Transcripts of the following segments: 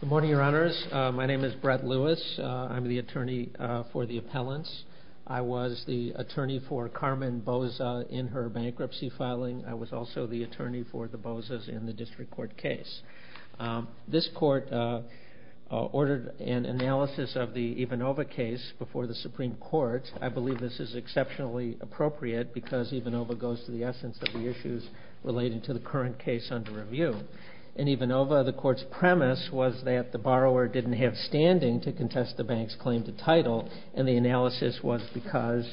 Good morning, Your Honors. My name is Brett Lewis. I'm the attorney for the appellants. I was the attorney for Carmen Boza in her bankruptcy filing. I was also the attorney for the Bozas in the district court case. This court ordered an analysis of the Ivanova case before the Supreme Court. I believe this is exceptionally appropriate because Ivanova goes to the essence of the issues relating to the current case under review. In Ivanova, the court's premise was that the borrower didn't have standing to contest the bank's claim to title, and the analysis was because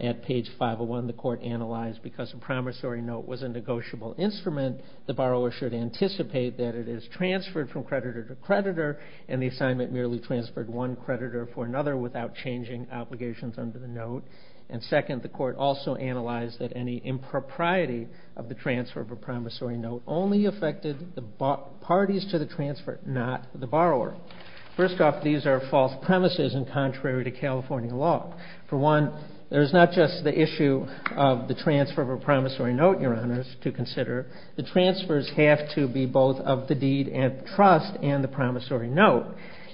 at page 501 the court analyzed because a promissory note was a negotiable instrument, the borrower should anticipate that it is transferred from creditor to creditor, and the assignment merely transferred one creditor for another without changing obligations under the note. And second, the court also analyzed that any impropriety of the transfer of a promissory note only affected the parties to the transfer, not the borrower. First off, these are false premises and contrary to California law. For one, there's not just the issue of the transfer of a promissory note, Your Honors, to consider. The transfers have to be both of the deed and the trust and the promissory note.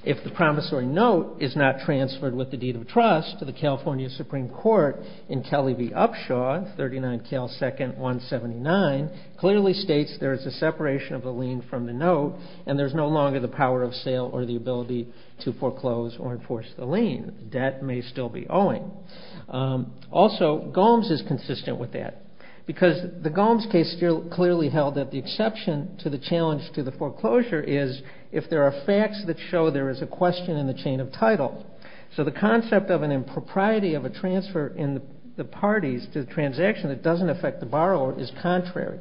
If the promissory note is not transferred with the deed of trust to the California Supreme Court in Kelly v. Upshaw, 39 Cal 2nd 179 clearly states there is a separation of the lien from the note and there's no longer the power of sale or the ability to foreclose or enforce the lien. Debt may still be owing. Also, Gomes is consistent with that because the Gomes case clearly held that the exception to the challenge to the foreclosure is if there are facts that show there is a question in the chain of title. So the concept of an impropriety of a transfer in the parties to the transaction that doesn't affect the borrower is contrary.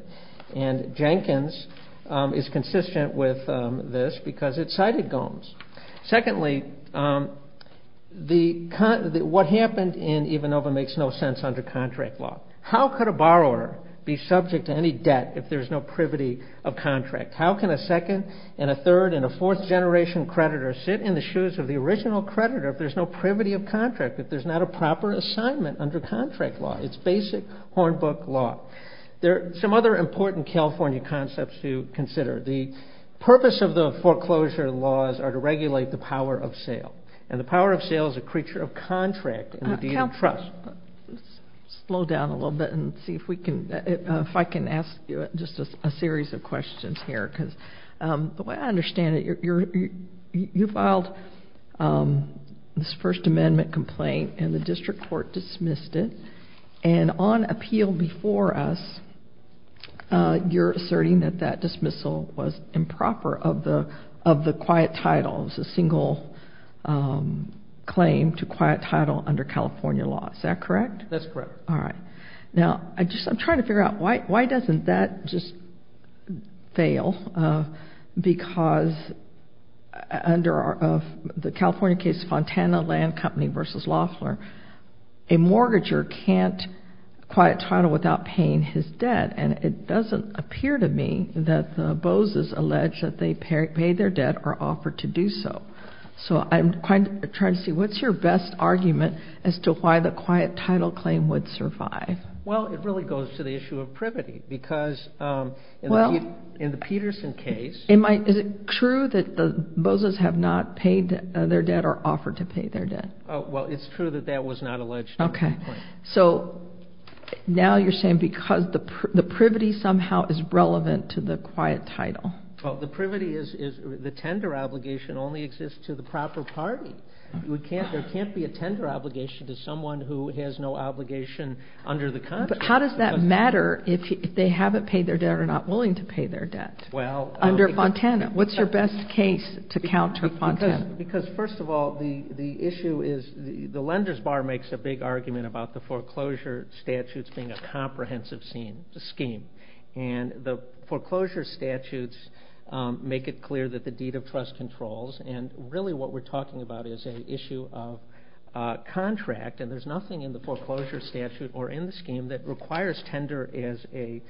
And Jenkins is consistent with this because it cited Gomes. Secondly, what happened in Ivanova makes no sense under contract law. How could a borrower be subject to any debt if there's no privity of contract? How can a second and a third and a fourth generation creditor sit in the shoes of the original creditor if there's no privity of contract, if there's not a proper assignment under contract law? It's basic hornbook law. There are some other important California concepts to consider. The purpose of the foreclosure laws are to regulate the power of sale. And the power of sale is a creature of contract and the deed of trust. Slow down a little bit and see if I can ask you just a series of questions here. Because the way I understand it, you filed this First Amendment complaint and the district court dismissed it. And on appeal before us, you're asserting that that dismissal was improper of the quiet titles, a single claim to quiet title under California law. Is that correct? That's correct. All right. Now, I'm trying to figure out why doesn't that just fail because under the California case of Fontana Land Company versus Loeffler, a mortgager can't quiet title without paying his debt. And it doesn't appear to me that the bozos allege that they paid their debt or offered to do so. So I'm trying to see what's your best argument as to why the quiet title claim would survive? Well, it really goes to the issue of privity because in the Peterson case ---- Is it true that the bozos have not paid their debt or offered to pay their debt? Well, it's true that that was not alleged. Okay. So now you're saying because the privity somehow is relevant to the quiet title. Well, the privity is the tender obligation only exists to the proper party. There can't be a tender obligation to someone who has no obligation under the contract. But how does that matter if they haven't paid their debt or are not willing to pay their debt under Fontana? What's your best case to counter Fontana? Because, first of all, the issue is the lender's bar makes a big argument about the foreclosure statutes being a comprehensive scheme. And the foreclosure statutes make it clear that the deed of trust controls. And really what we're talking about is an issue of contract, and there's nothing in the foreclosure statute or in the scheme that requires tender as a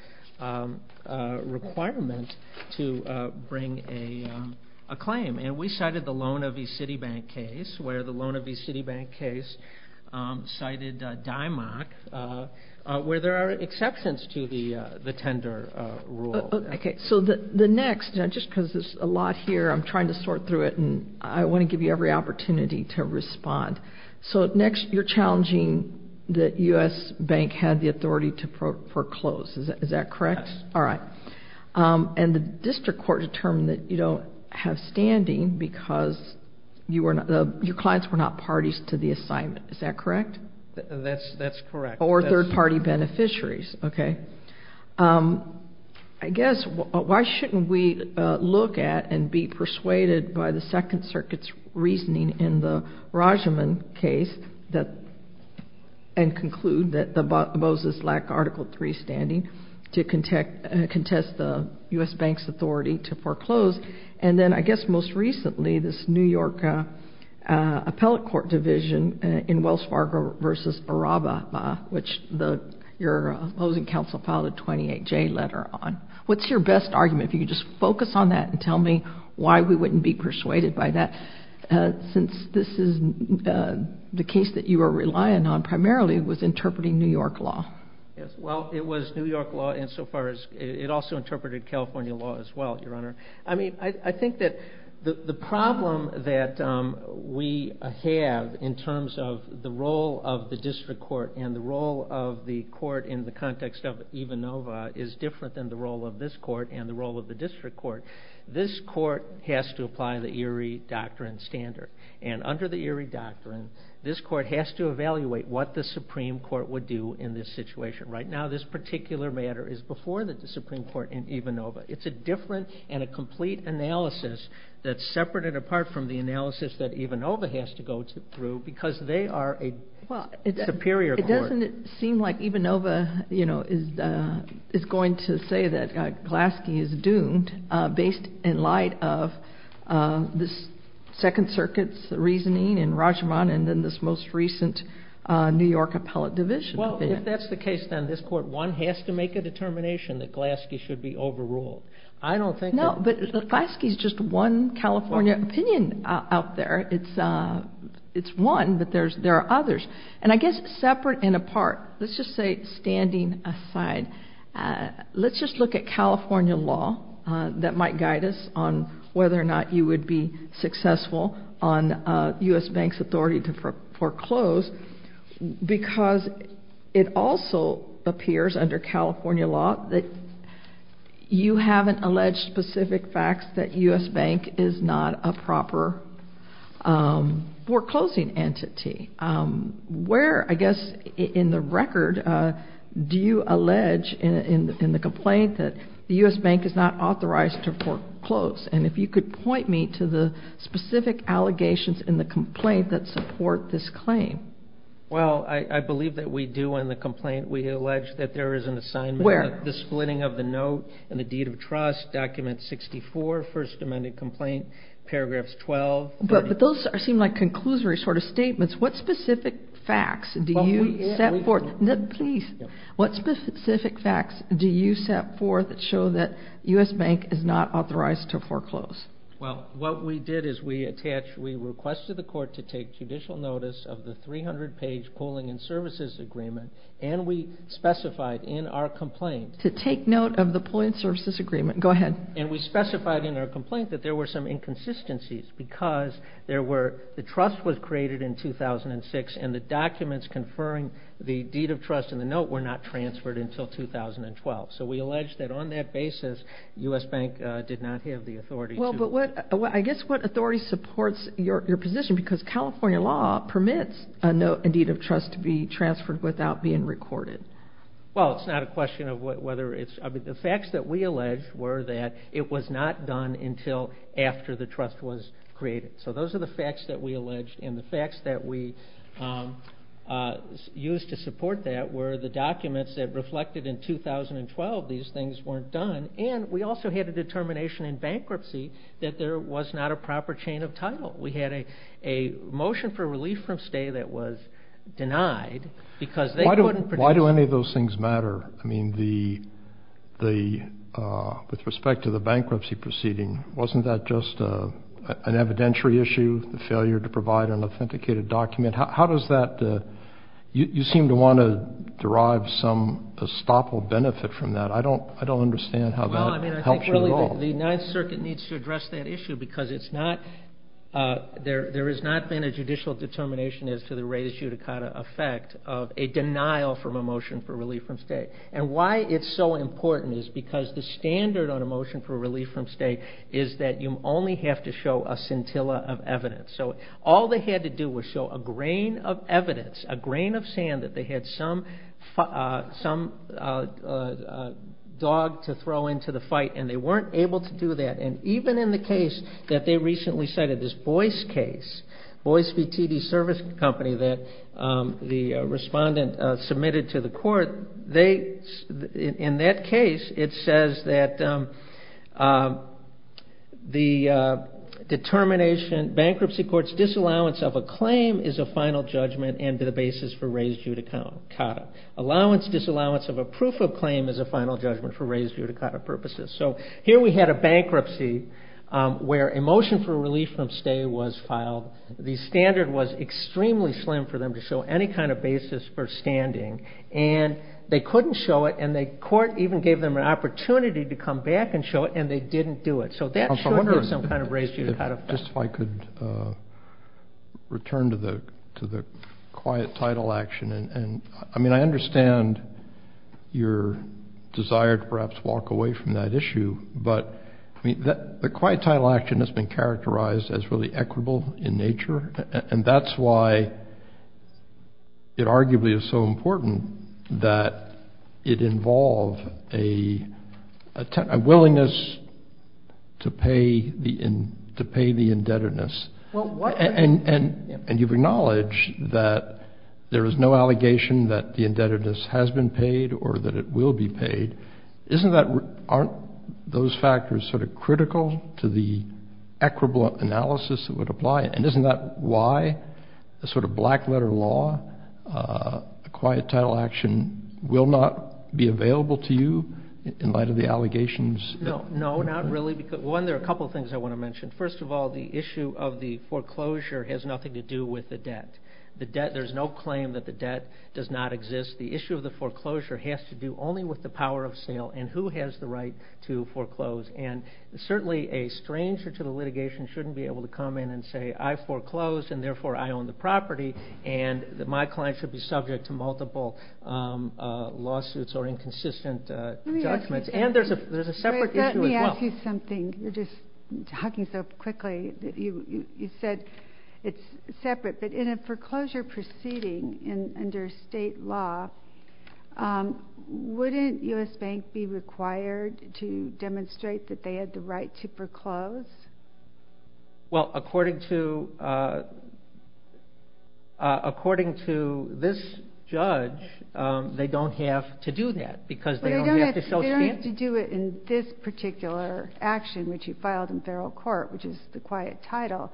requirement to bring a claim. And we cited the Lona v. Citibank case, where the Lona v. Citibank case cited DIMOC, where there are exceptions to the tender rule. Okay. So the next, just because there's a lot here, I'm trying to sort through it, and I want to give you every opportunity to respond. So next, you're challenging that U.S. Bank had the authority to foreclose. Is that correct? Yes. All right. And the district court determined that you don't have standing because your clients were not parties to the assignment. Is that correct? That's correct. Or third-party beneficiaries. Okay. I guess why shouldn't we look at and be persuaded by the Second Circuit's reasoning in the Rajaman case and conclude that the Bozos lack Article III standing to contest the U.S. Bank's authority to foreclose? And then, I guess most recently, this New York appellate court division in Wells Fargo v. Arraba, which your opposing counsel filed a 28-J letter on. What's your best argument? If you could just focus on that and tell me why we wouldn't be persuaded by that. Since this is the case that you are relying on primarily was interpreting New York law. Yes. Well, it was New York law insofar as it also interpreted California law as well, Your Honor. I mean, I think that the problem that we have in terms of the role of the district court and the role of the court in the context of Ivanova is different than the role of this court and the role of the district court. This court has to apply the Erie Doctrine standard. And under the Erie Doctrine, this court has to evaluate what the Supreme Court would do in this situation. Right now, this particular matter is before the Supreme Court in Ivanova. It's a different and a complete analysis that's separate and apart from the analysis that Ivanova has to go through because they are a superior court. Doesn't it seem like Ivanova is going to say that Glaske is doomed based in light of the Second Circuit's reasoning and Rajaman and then this most recent New York appellate division? Well, if that's the case, then this court one has to make a determination that Glaske should be overruled. I don't think that... No, but Glaske is just one California opinion out there. It's one, but there are others. And I guess separate and apart, let's just say standing aside, let's just look at California law that might guide us on whether or not you would be successful on U.S. Bank's authority to foreclose because it also appears under California law that you haven't alleged specific facts that U.S. Bank is not a proper foreclosing entity. Where, I guess, in the record, do you allege in the complaint that the U.S. Bank is not authorized to foreclose? And if you could point me to the specific allegations in the complaint that support this claim. Well, I believe that we do in the complaint. We allege that there is an assignment. Where? The splitting of the note and the deed of trust, document 64, first amended complaint, paragraphs 12. But those seem like conclusory sort of statements. What specific facts do you set forth? Please. What specific facts do you set forth that show that U.S. Bank is not authorized to foreclose? Well, what we did is we attached, we requested the court to take judicial notice of the 300-page pooling and services agreement, and we specified in our complaint... To take note of the pooling and services agreement. Go ahead. And we specified in our complaint that there were some inconsistencies because there were, the trust was created in 2006, and the documents conferring the deed of trust and the note were not transferred until 2012. So we allege that on that basis, U.S. Bank did not have the authority to... Well, but what, I guess, what authority supports your position? Because California law permits a note and deed of trust to be transferred without being recorded. Well, it's not a question of whether it's, I mean, the facts that we allege were that it was not done until after the trust was created. So those are the facts that we allege, and the facts that we used to support that were the documents that reflected in 2012, these things weren't done, and we also had a determination in bankruptcy that there was not a proper chain of title. We had a motion for relief from stay that was denied because they couldn't produce... Why do any of those things matter? I mean, the, with respect to the bankruptcy proceeding, wasn't that just an evidentiary issue, the failure to provide an authenticated document? How does that, you seem to want to derive some estoppel benefit from that. I don't understand how that helps you at all. Well, I mean, I think really the Ninth Circuit needs to address that issue because it's not, there has not been a judicial determination as to the res judicata effect of a denial from a motion for relief from stay. And why it's so important is because the standard on a motion for relief from stay is that you only have to show a scintilla of evidence. So all they had to do was show a grain of evidence, a grain of sand that they had some dog to throw into the fight, and they weren't able to do that. And even in the case that they recently cited, this Boyce case, Boyce v. TD Service Company, that the respondent submitted to the court, they, in that case, it says that the determination, bankruptcy court's disallowance of a claim is a final judgment and the basis for res judicata. Allowance, disallowance of a proof of claim is a final judgment for res judicata purposes. So here we had a bankruptcy where a motion for relief from stay was filed. The standard was extremely slim for them to show any kind of basis for standing. And they couldn't show it, and the court even gave them an opportunity to come back and show it, and they didn't do it. So that should give some kind of res judicata effect. Just if I could return to the quiet title action. I mean, I understand your desire to perhaps walk away from that issue, but the quiet title action has been characterized as really equitable in nature, and that's why it arguably is so important that it involve a willingness to pay the indebtedness. And you've acknowledged that there is no allegation that the indebtedness has been paid or that it will be paid. Aren't those factors sort of critical to the equitable analysis that would apply? And isn't that why the sort of black letter law, the quiet title action, will not be available to you in light of the allegations? No, not really. One, there are a couple of things I want to mention. First of all, the issue of the foreclosure has nothing to do with the debt. There's no claim that the debt does not exist. The issue of the foreclosure has to do only with the power of sale and who has the right to foreclose. And certainly a stranger to the litigation shouldn't be able to come in and say, I foreclosed and therefore I own the property, and my client should be subject to multiple lawsuits or inconsistent judgments. And there's a separate issue as well. You're just talking so quickly that you said it's separate. But in a foreclosure proceeding under state law, wouldn't U.S. Bank be required to demonstrate that they had the right to foreclose? Well, according to this judge, they don't have to do that because they don't have to show stance. In order to do it in this particular action, which you filed in federal court, which is the quiet title,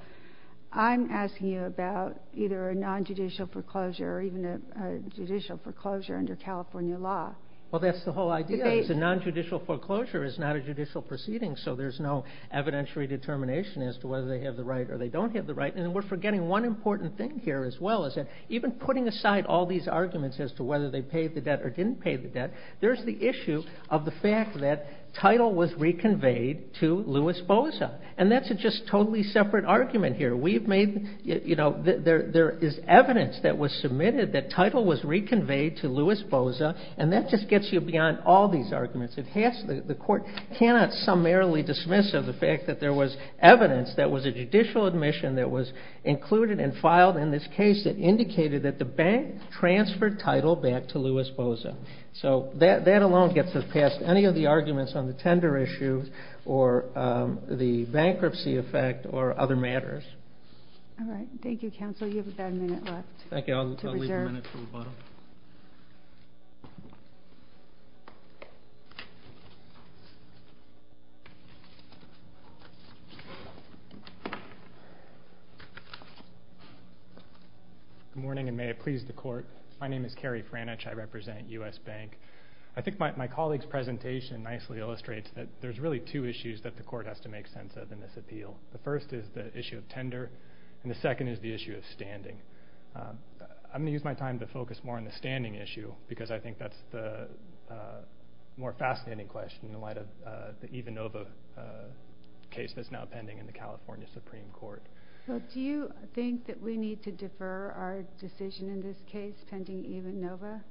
I'm asking you about either a nonjudicial foreclosure or even a judicial foreclosure under California law. Well, that's the whole idea. It's a nonjudicial foreclosure. It's not a judicial proceeding, so there's no evidentiary determination as to whether they have the right or they don't have the right. And we're forgetting one important thing here as well, is that even putting aside all these arguments as to whether they paid the debt or didn't pay the debt, there's the issue of the fact that title was reconveyed to Louis Bosa. And that's a just totally separate argument here. We've made, you know, there is evidence that was submitted that title was reconveyed to Louis Bosa, and that just gets you beyond all these arguments. The court cannot summarily dismiss the fact that there was evidence that was a judicial admission that was included and filed in this case that indicated that the bank transferred title back to Louis Bosa. So that alone gets us past any of the arguments on the tender issue or the bankruptcy effect or other matters. All right. Thank you, counsel. You have about a minute left to reserve. Thank you. I'll leave the minute to the bottom. Good morning, and may it please the court. My name is Kerry Frannich. I represent U.S. Bank. I think my colleague's presentation nicely illustrates that there's really two issues that the court has to make sense of in this appeal. The first is the issue of tender, and the second is the issue of standing. I'm going to use my time to focus more on the standing issue because I think that's the more fascinating question in light of the Ivanova case that's now pending in the California Supreme Court. So do you think that we need to defer our decision in this case pending Ivanova?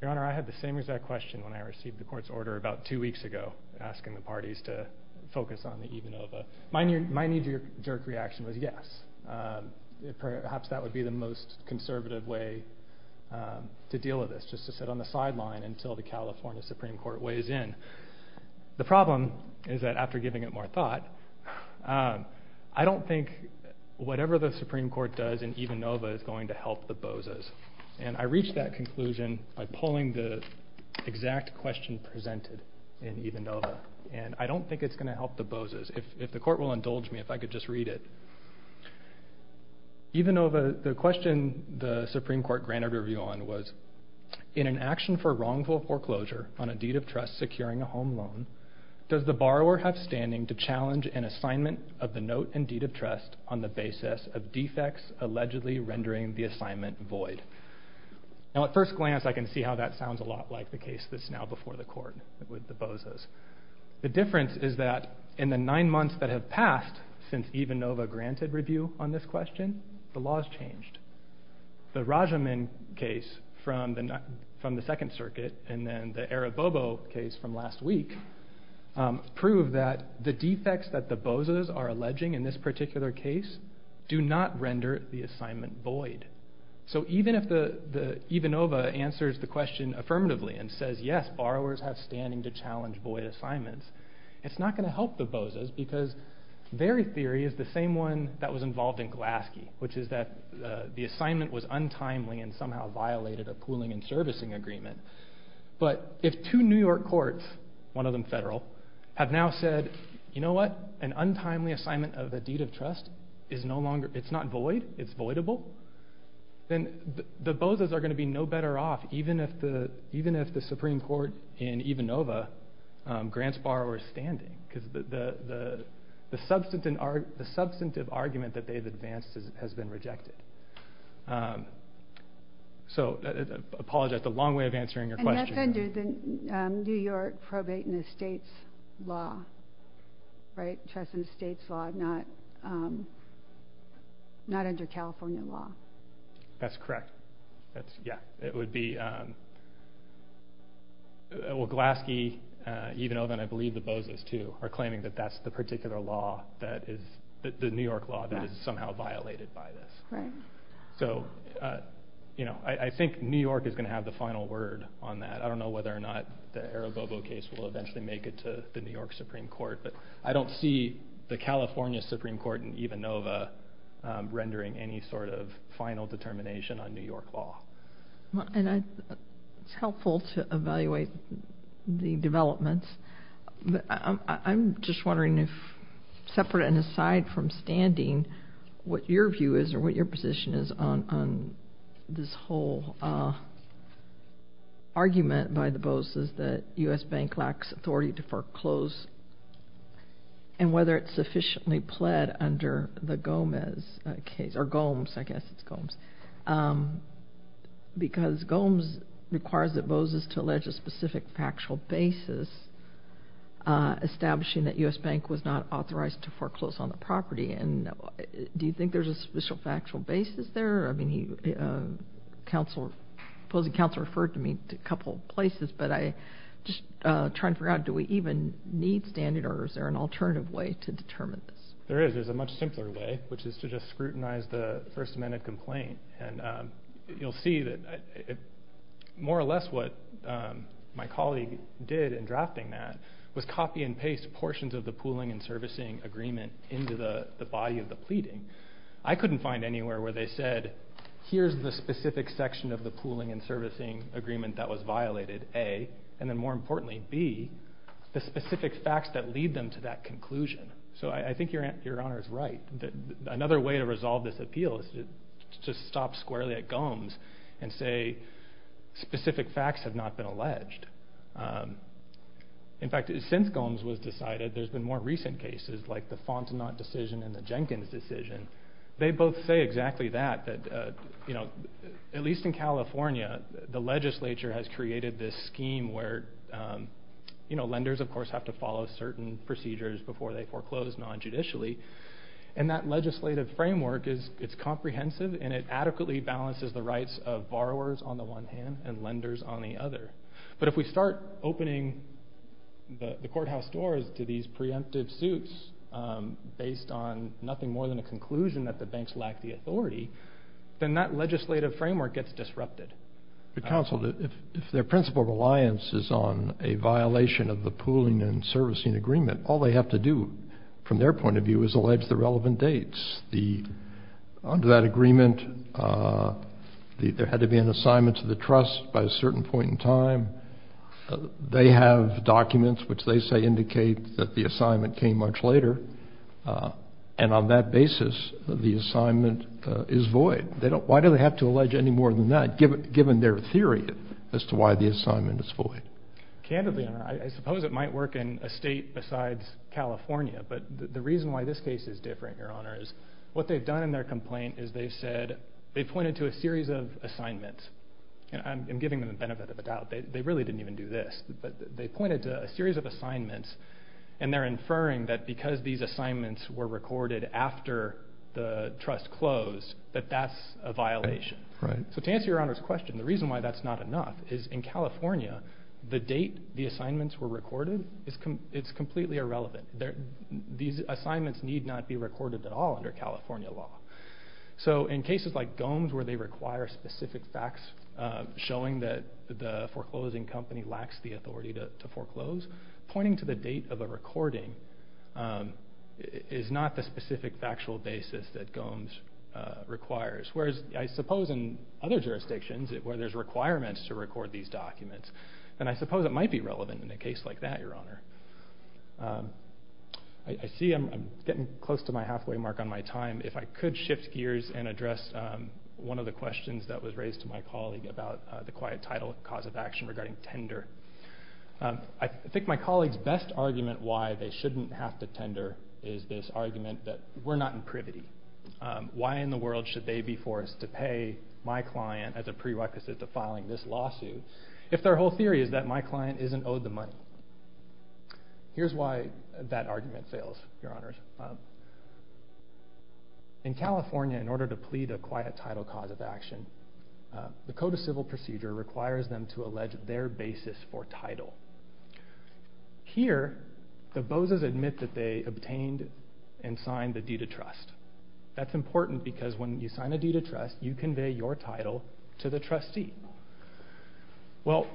Your Honor, I had the same exact question when I received the court's order about two weeks ago, asking the parties to focus on the Ivanova. My knee-jerk reaction was yes. Perhaps that would be the most conservative way to deal with this, just to sit on the sideline until the California Supreme Court weighs in. The problem is that after giving it more thought, I don't think whatever the Supreme Court does in Ivanova is going to help the Bozes. And I reached that conclusion by pulling the exact question presented in Ivanova, and I don't think it's going to help the Bozes. If the court will indulge me, if I could just read it. Ivanova, the question the Supreme Court granted a review on was, in an action for wrongful foreclosure on a deed of trust securing a home loan, does the borrower have standing to challenge an assignment of the note and deed of trust on the basis of defects allegedly rendering the assignment void? Now at first glance, I can see how that sounds a lot like the case that's now before the court with the Bozes. The difference is that in the nine months that have passed since Ivanova granted review on this question, the laws changed. The Rajaman case from the Second Circuit and then the Arabobo case from last week prove that the defects that the Bozes are alleging in this particular case do not render the assignment void. So even if Ivanova answers the question affirmatively and says yes, borrowers have standing to challenge void assignments, it's not going to help the Bozes because their theory is the same one that was involved in Glaske, which is that the assignment was untimely and somehow violated a pooling and servicing agreement. But if two New York courts, one of them federal, have now said, you know what, an untimely assignment of a deed of trust is not void, it's voidable, then the Bozes are going to be no better off even if the Supreme Court in Ivanova grants borrowers standing because the substantive argument that they've advanced has been rejected. So I apologize, that's a long way of answering your question. And that's under the New York Probate and Estates Law, right? Trust and Estates Law, not under California law. That's correct. Well, Glaske, Ivanova, and I believe the Bozes too, are claiming that that's the particular law, the New York law, that is somehow violated by this. So I think New York is going to have the final word on that. I don't know whether or not the Aribobo case will eventually make it to the New York Supreme Court, but I don't see the California Supreme Court in Ivanova rendering any sort of final determination on New York law. It's helpful to evaluate the developments. I'm just wondering if, separate and aside from standing, what your view is or what your position is on this whole argument by the Bozes that U.S. Bank lacks authority to foreclose and whether it's sufficiently pled under the Gomez case, or Gomes, I guess it's Gomes, because Gomes requires the Bozes to allege a specific factual basis establishing that U.S. Bank was not authorized to foreclose on the property. And do you think there's a special factual basis there? I mean, the opposing counsel referred to me a couple of places, but I'm just trying to figure out, do we even need standing orders? Is there an alternative way to determine this? There is. There's a much simpler way, which is to just scrutinize the First Amendment complaint. And you'll see that more or less what my colleague did in drafting that was copy and paste portions of the pooling and servicing agreement into the body of the pleading. I couldn't find anywhere where they said, here's the specific section of the pooling and servicing agreement that was violated, A, and then more importantly, B, the specific facts that lead them to that conclusion. So I think your Honor is right. Another way to resolve this appeal is to stop squarely at Gomes and say specific facts have not been alleged. In fact, since Gomes was decided, there's been more recent cases, like the Fontenot decision and the Jenkins decision. They both say exactly that, that at least in California, the legislature has created this scheme where lenders, of course, have to follow certain procedures before they foreclose non-judicially. And that legislative framework is comprehensive, and it adequately balances the rights of borrowers on the one hand and lenders on the other. But if we start opening the courthouse doors to these preemptive suits based on nothing more than a conclusion that the banks lack the authority, then that legislative framework gets disrupted. Counsel, if their principal reliance is on a violation of the pooling and servicing agreement, all they have to do from their point of view is allege the relevant dates. Under that agreement, there had to be an assignment to the trust by a certain point in time. They have documents which they say indicate that the assignment came much later. And on that basis, the assignment is void. Why do they have to allege any more than that, given their theory as to why the assignment is void? Candidly, Your Honor, I suppose it might work in a state besides California. But the reason why this case is different, Your Honor, is what they've done in their complaint is they've said they've pointed to a series of assignments, and I'm giving them the benefit of the doubt. They really didn't even do this. But they pointed to a series of assignments, and they're inferring that because these assignments were recorded after the trust closed, that that's a violation. So to answer Your Honor's question, the reason why that's not enough is in California, the date the assignments were recorded is completely irrelevant. These assignments need not be recorded at all under California law. So in cases like Gomes where they require specific facts showing that the foreclosing company lacks the authority to foreclose, pointing to the date of a recording is not the specific factual basis that Gomes requires. Whereas I suppose in other jurisdictions where there's requirements to record these documents, then I suppose it might be relevant in a case like that, Your Honor. I see I'm getting close to my halfway mark on my time. If I could shift gears and address one of the questions that was raised to my colleague about the quiet title and cause of action regarding tender. I think my colleague's best argument why they shouldn't have to tender is this argument that we're not in privity. Why in the world should they be forced to pay my client as a prerequisite to filing this lawsuit if their whole theory is that my client isn't owed the money? Here's why that argument fails, Your Honors. In California, in order to plead a quiet title cause of action, the Code of Civil Procedure requires them to allege their basis for title. Here, the BOZAs admit that they obtained and signed the deed of trust. That's important because when you sign a deed of trust, you convey your title to the trustee. Well,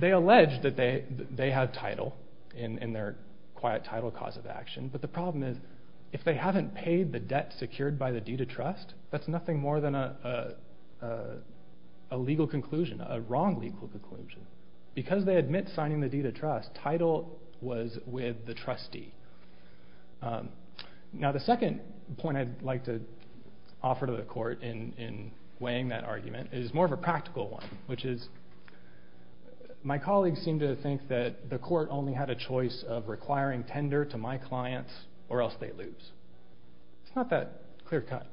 they allege that they have title in their quiet title cause of action, but the problem is if they haven't paid the debt secured by the deed of trust, that's nothing more than a legal conclusion, a wrong legal conclusion. Because they admit signing the deed of trust, title was with the trustee. Now the second point I'd like to offer to the court in weighing that argument is more of a practical one, which is my colleagues seem to think that the court only had a choice of requiring tender to my clients or else they lose. It's not that clear cut.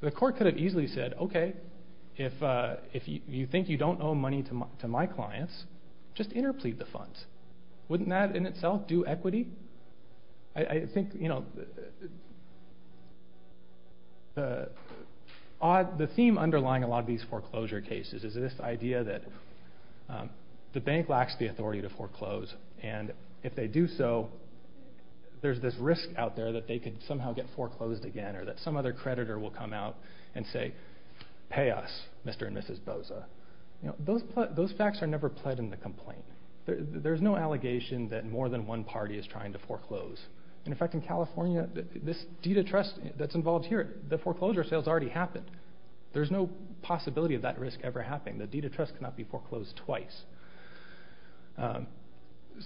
The court could have easily said, okay, if you think you don't owe money to my clients, just interplead the funds. Wouldn't that in itself do equity? I think, you know, the theme underlying a lot of these foreclosure cases is this idea that the bank lacks the authority to foreclose, and if they do so, there's this risk out there that they could somehow get foreclosed again or that some other creditor will come out and say, pay us, Mr. and Mrs. BOZA. Those facts are never pled in the complaint. There's no allegation that more than one party is trying to foreclose. In fact, in California, this deed of trust that's involved here, the foreclosure sales already happened. There's no possibility of that risk ever happening. The deed of trust cannot be foreclosed twice.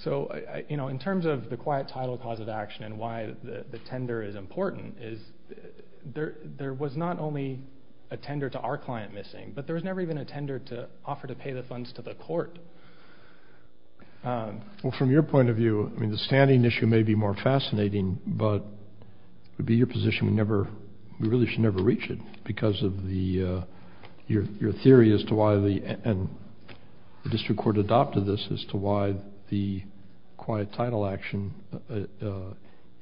So, you know, in terms of the quiet title cause of action and why the tender is important, there was not only a tender to our client missing, but there was never even a tender to offer to pay the funds to the court. Well, from your point of view, I mean, the standing issue may be more fascinating, but it would be your position we really should never reach it because of your theory as to why the district court adopted this as to why the quiet title action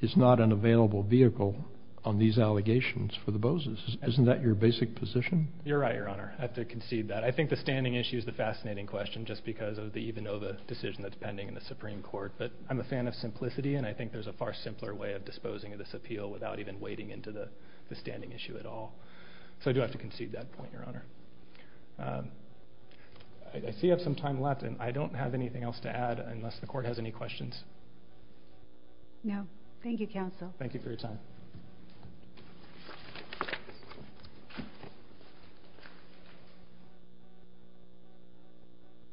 is not an available vehicle on these allegations for the BOZAs. Isn't that your basic position? You're right, Your Honor. I have to concede that. I think the standing issue is the fascinating question just because of the even though the decision that's pending in the Supreme Court. But I'm a fan of simplicity, and I think there's a far simpler way of disposing of this appeal without even wading into the standing issue at all. So I do have to concede that point, Your Honor. I see I have some time left, and I don't have anything else to add unless the court has any questions. No. Thank you, counsel. Thank you for your time.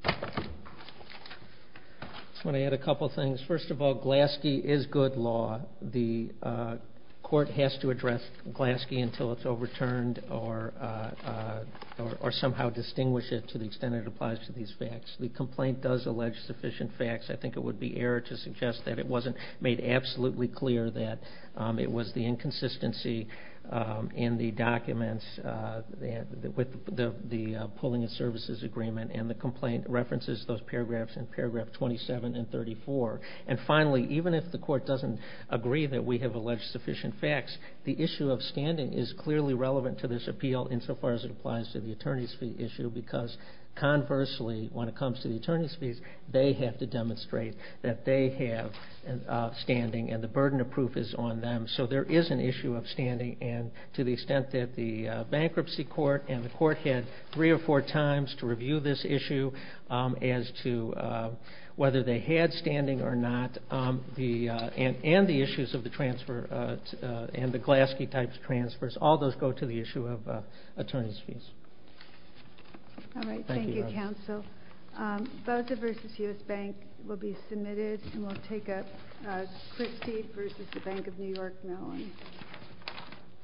I want to add a couple of things. First of all, Glaske is good law. The court has to address Glaske until it's overturned or somehow distinguish it to the extent it applies to these facts. The complaint does allege sufficient facts. I think it would be error to suggest that it wasn't made absolutely clear that it was the inconsistency in the documents with the pulling of services agreement, and the complaint references those paragraphs in paragraph 27 and 34. And finally, even if the court doesn't agree that we have alleged sufficient facts, the issue of standing is clearly relevant to this appeal insofar as it applies to the attorney's fee issue because conversely, when it comes to the attorney's fees, they have to demonstrate that they have standing and the burden of proof is on them. So there is an issue of standing, and to the extent that the bankruptcy court and the court had three or four times to review this issue as to whether they had standing or not, and the issues of the transfer and the Glaske-type transfers, all those go to the issue of attorney's fees. Thank you. Thank you, counsel. Boza v. U.S. Bank will be submitted, and we'll take up Christie v. Bank of New York Mellon.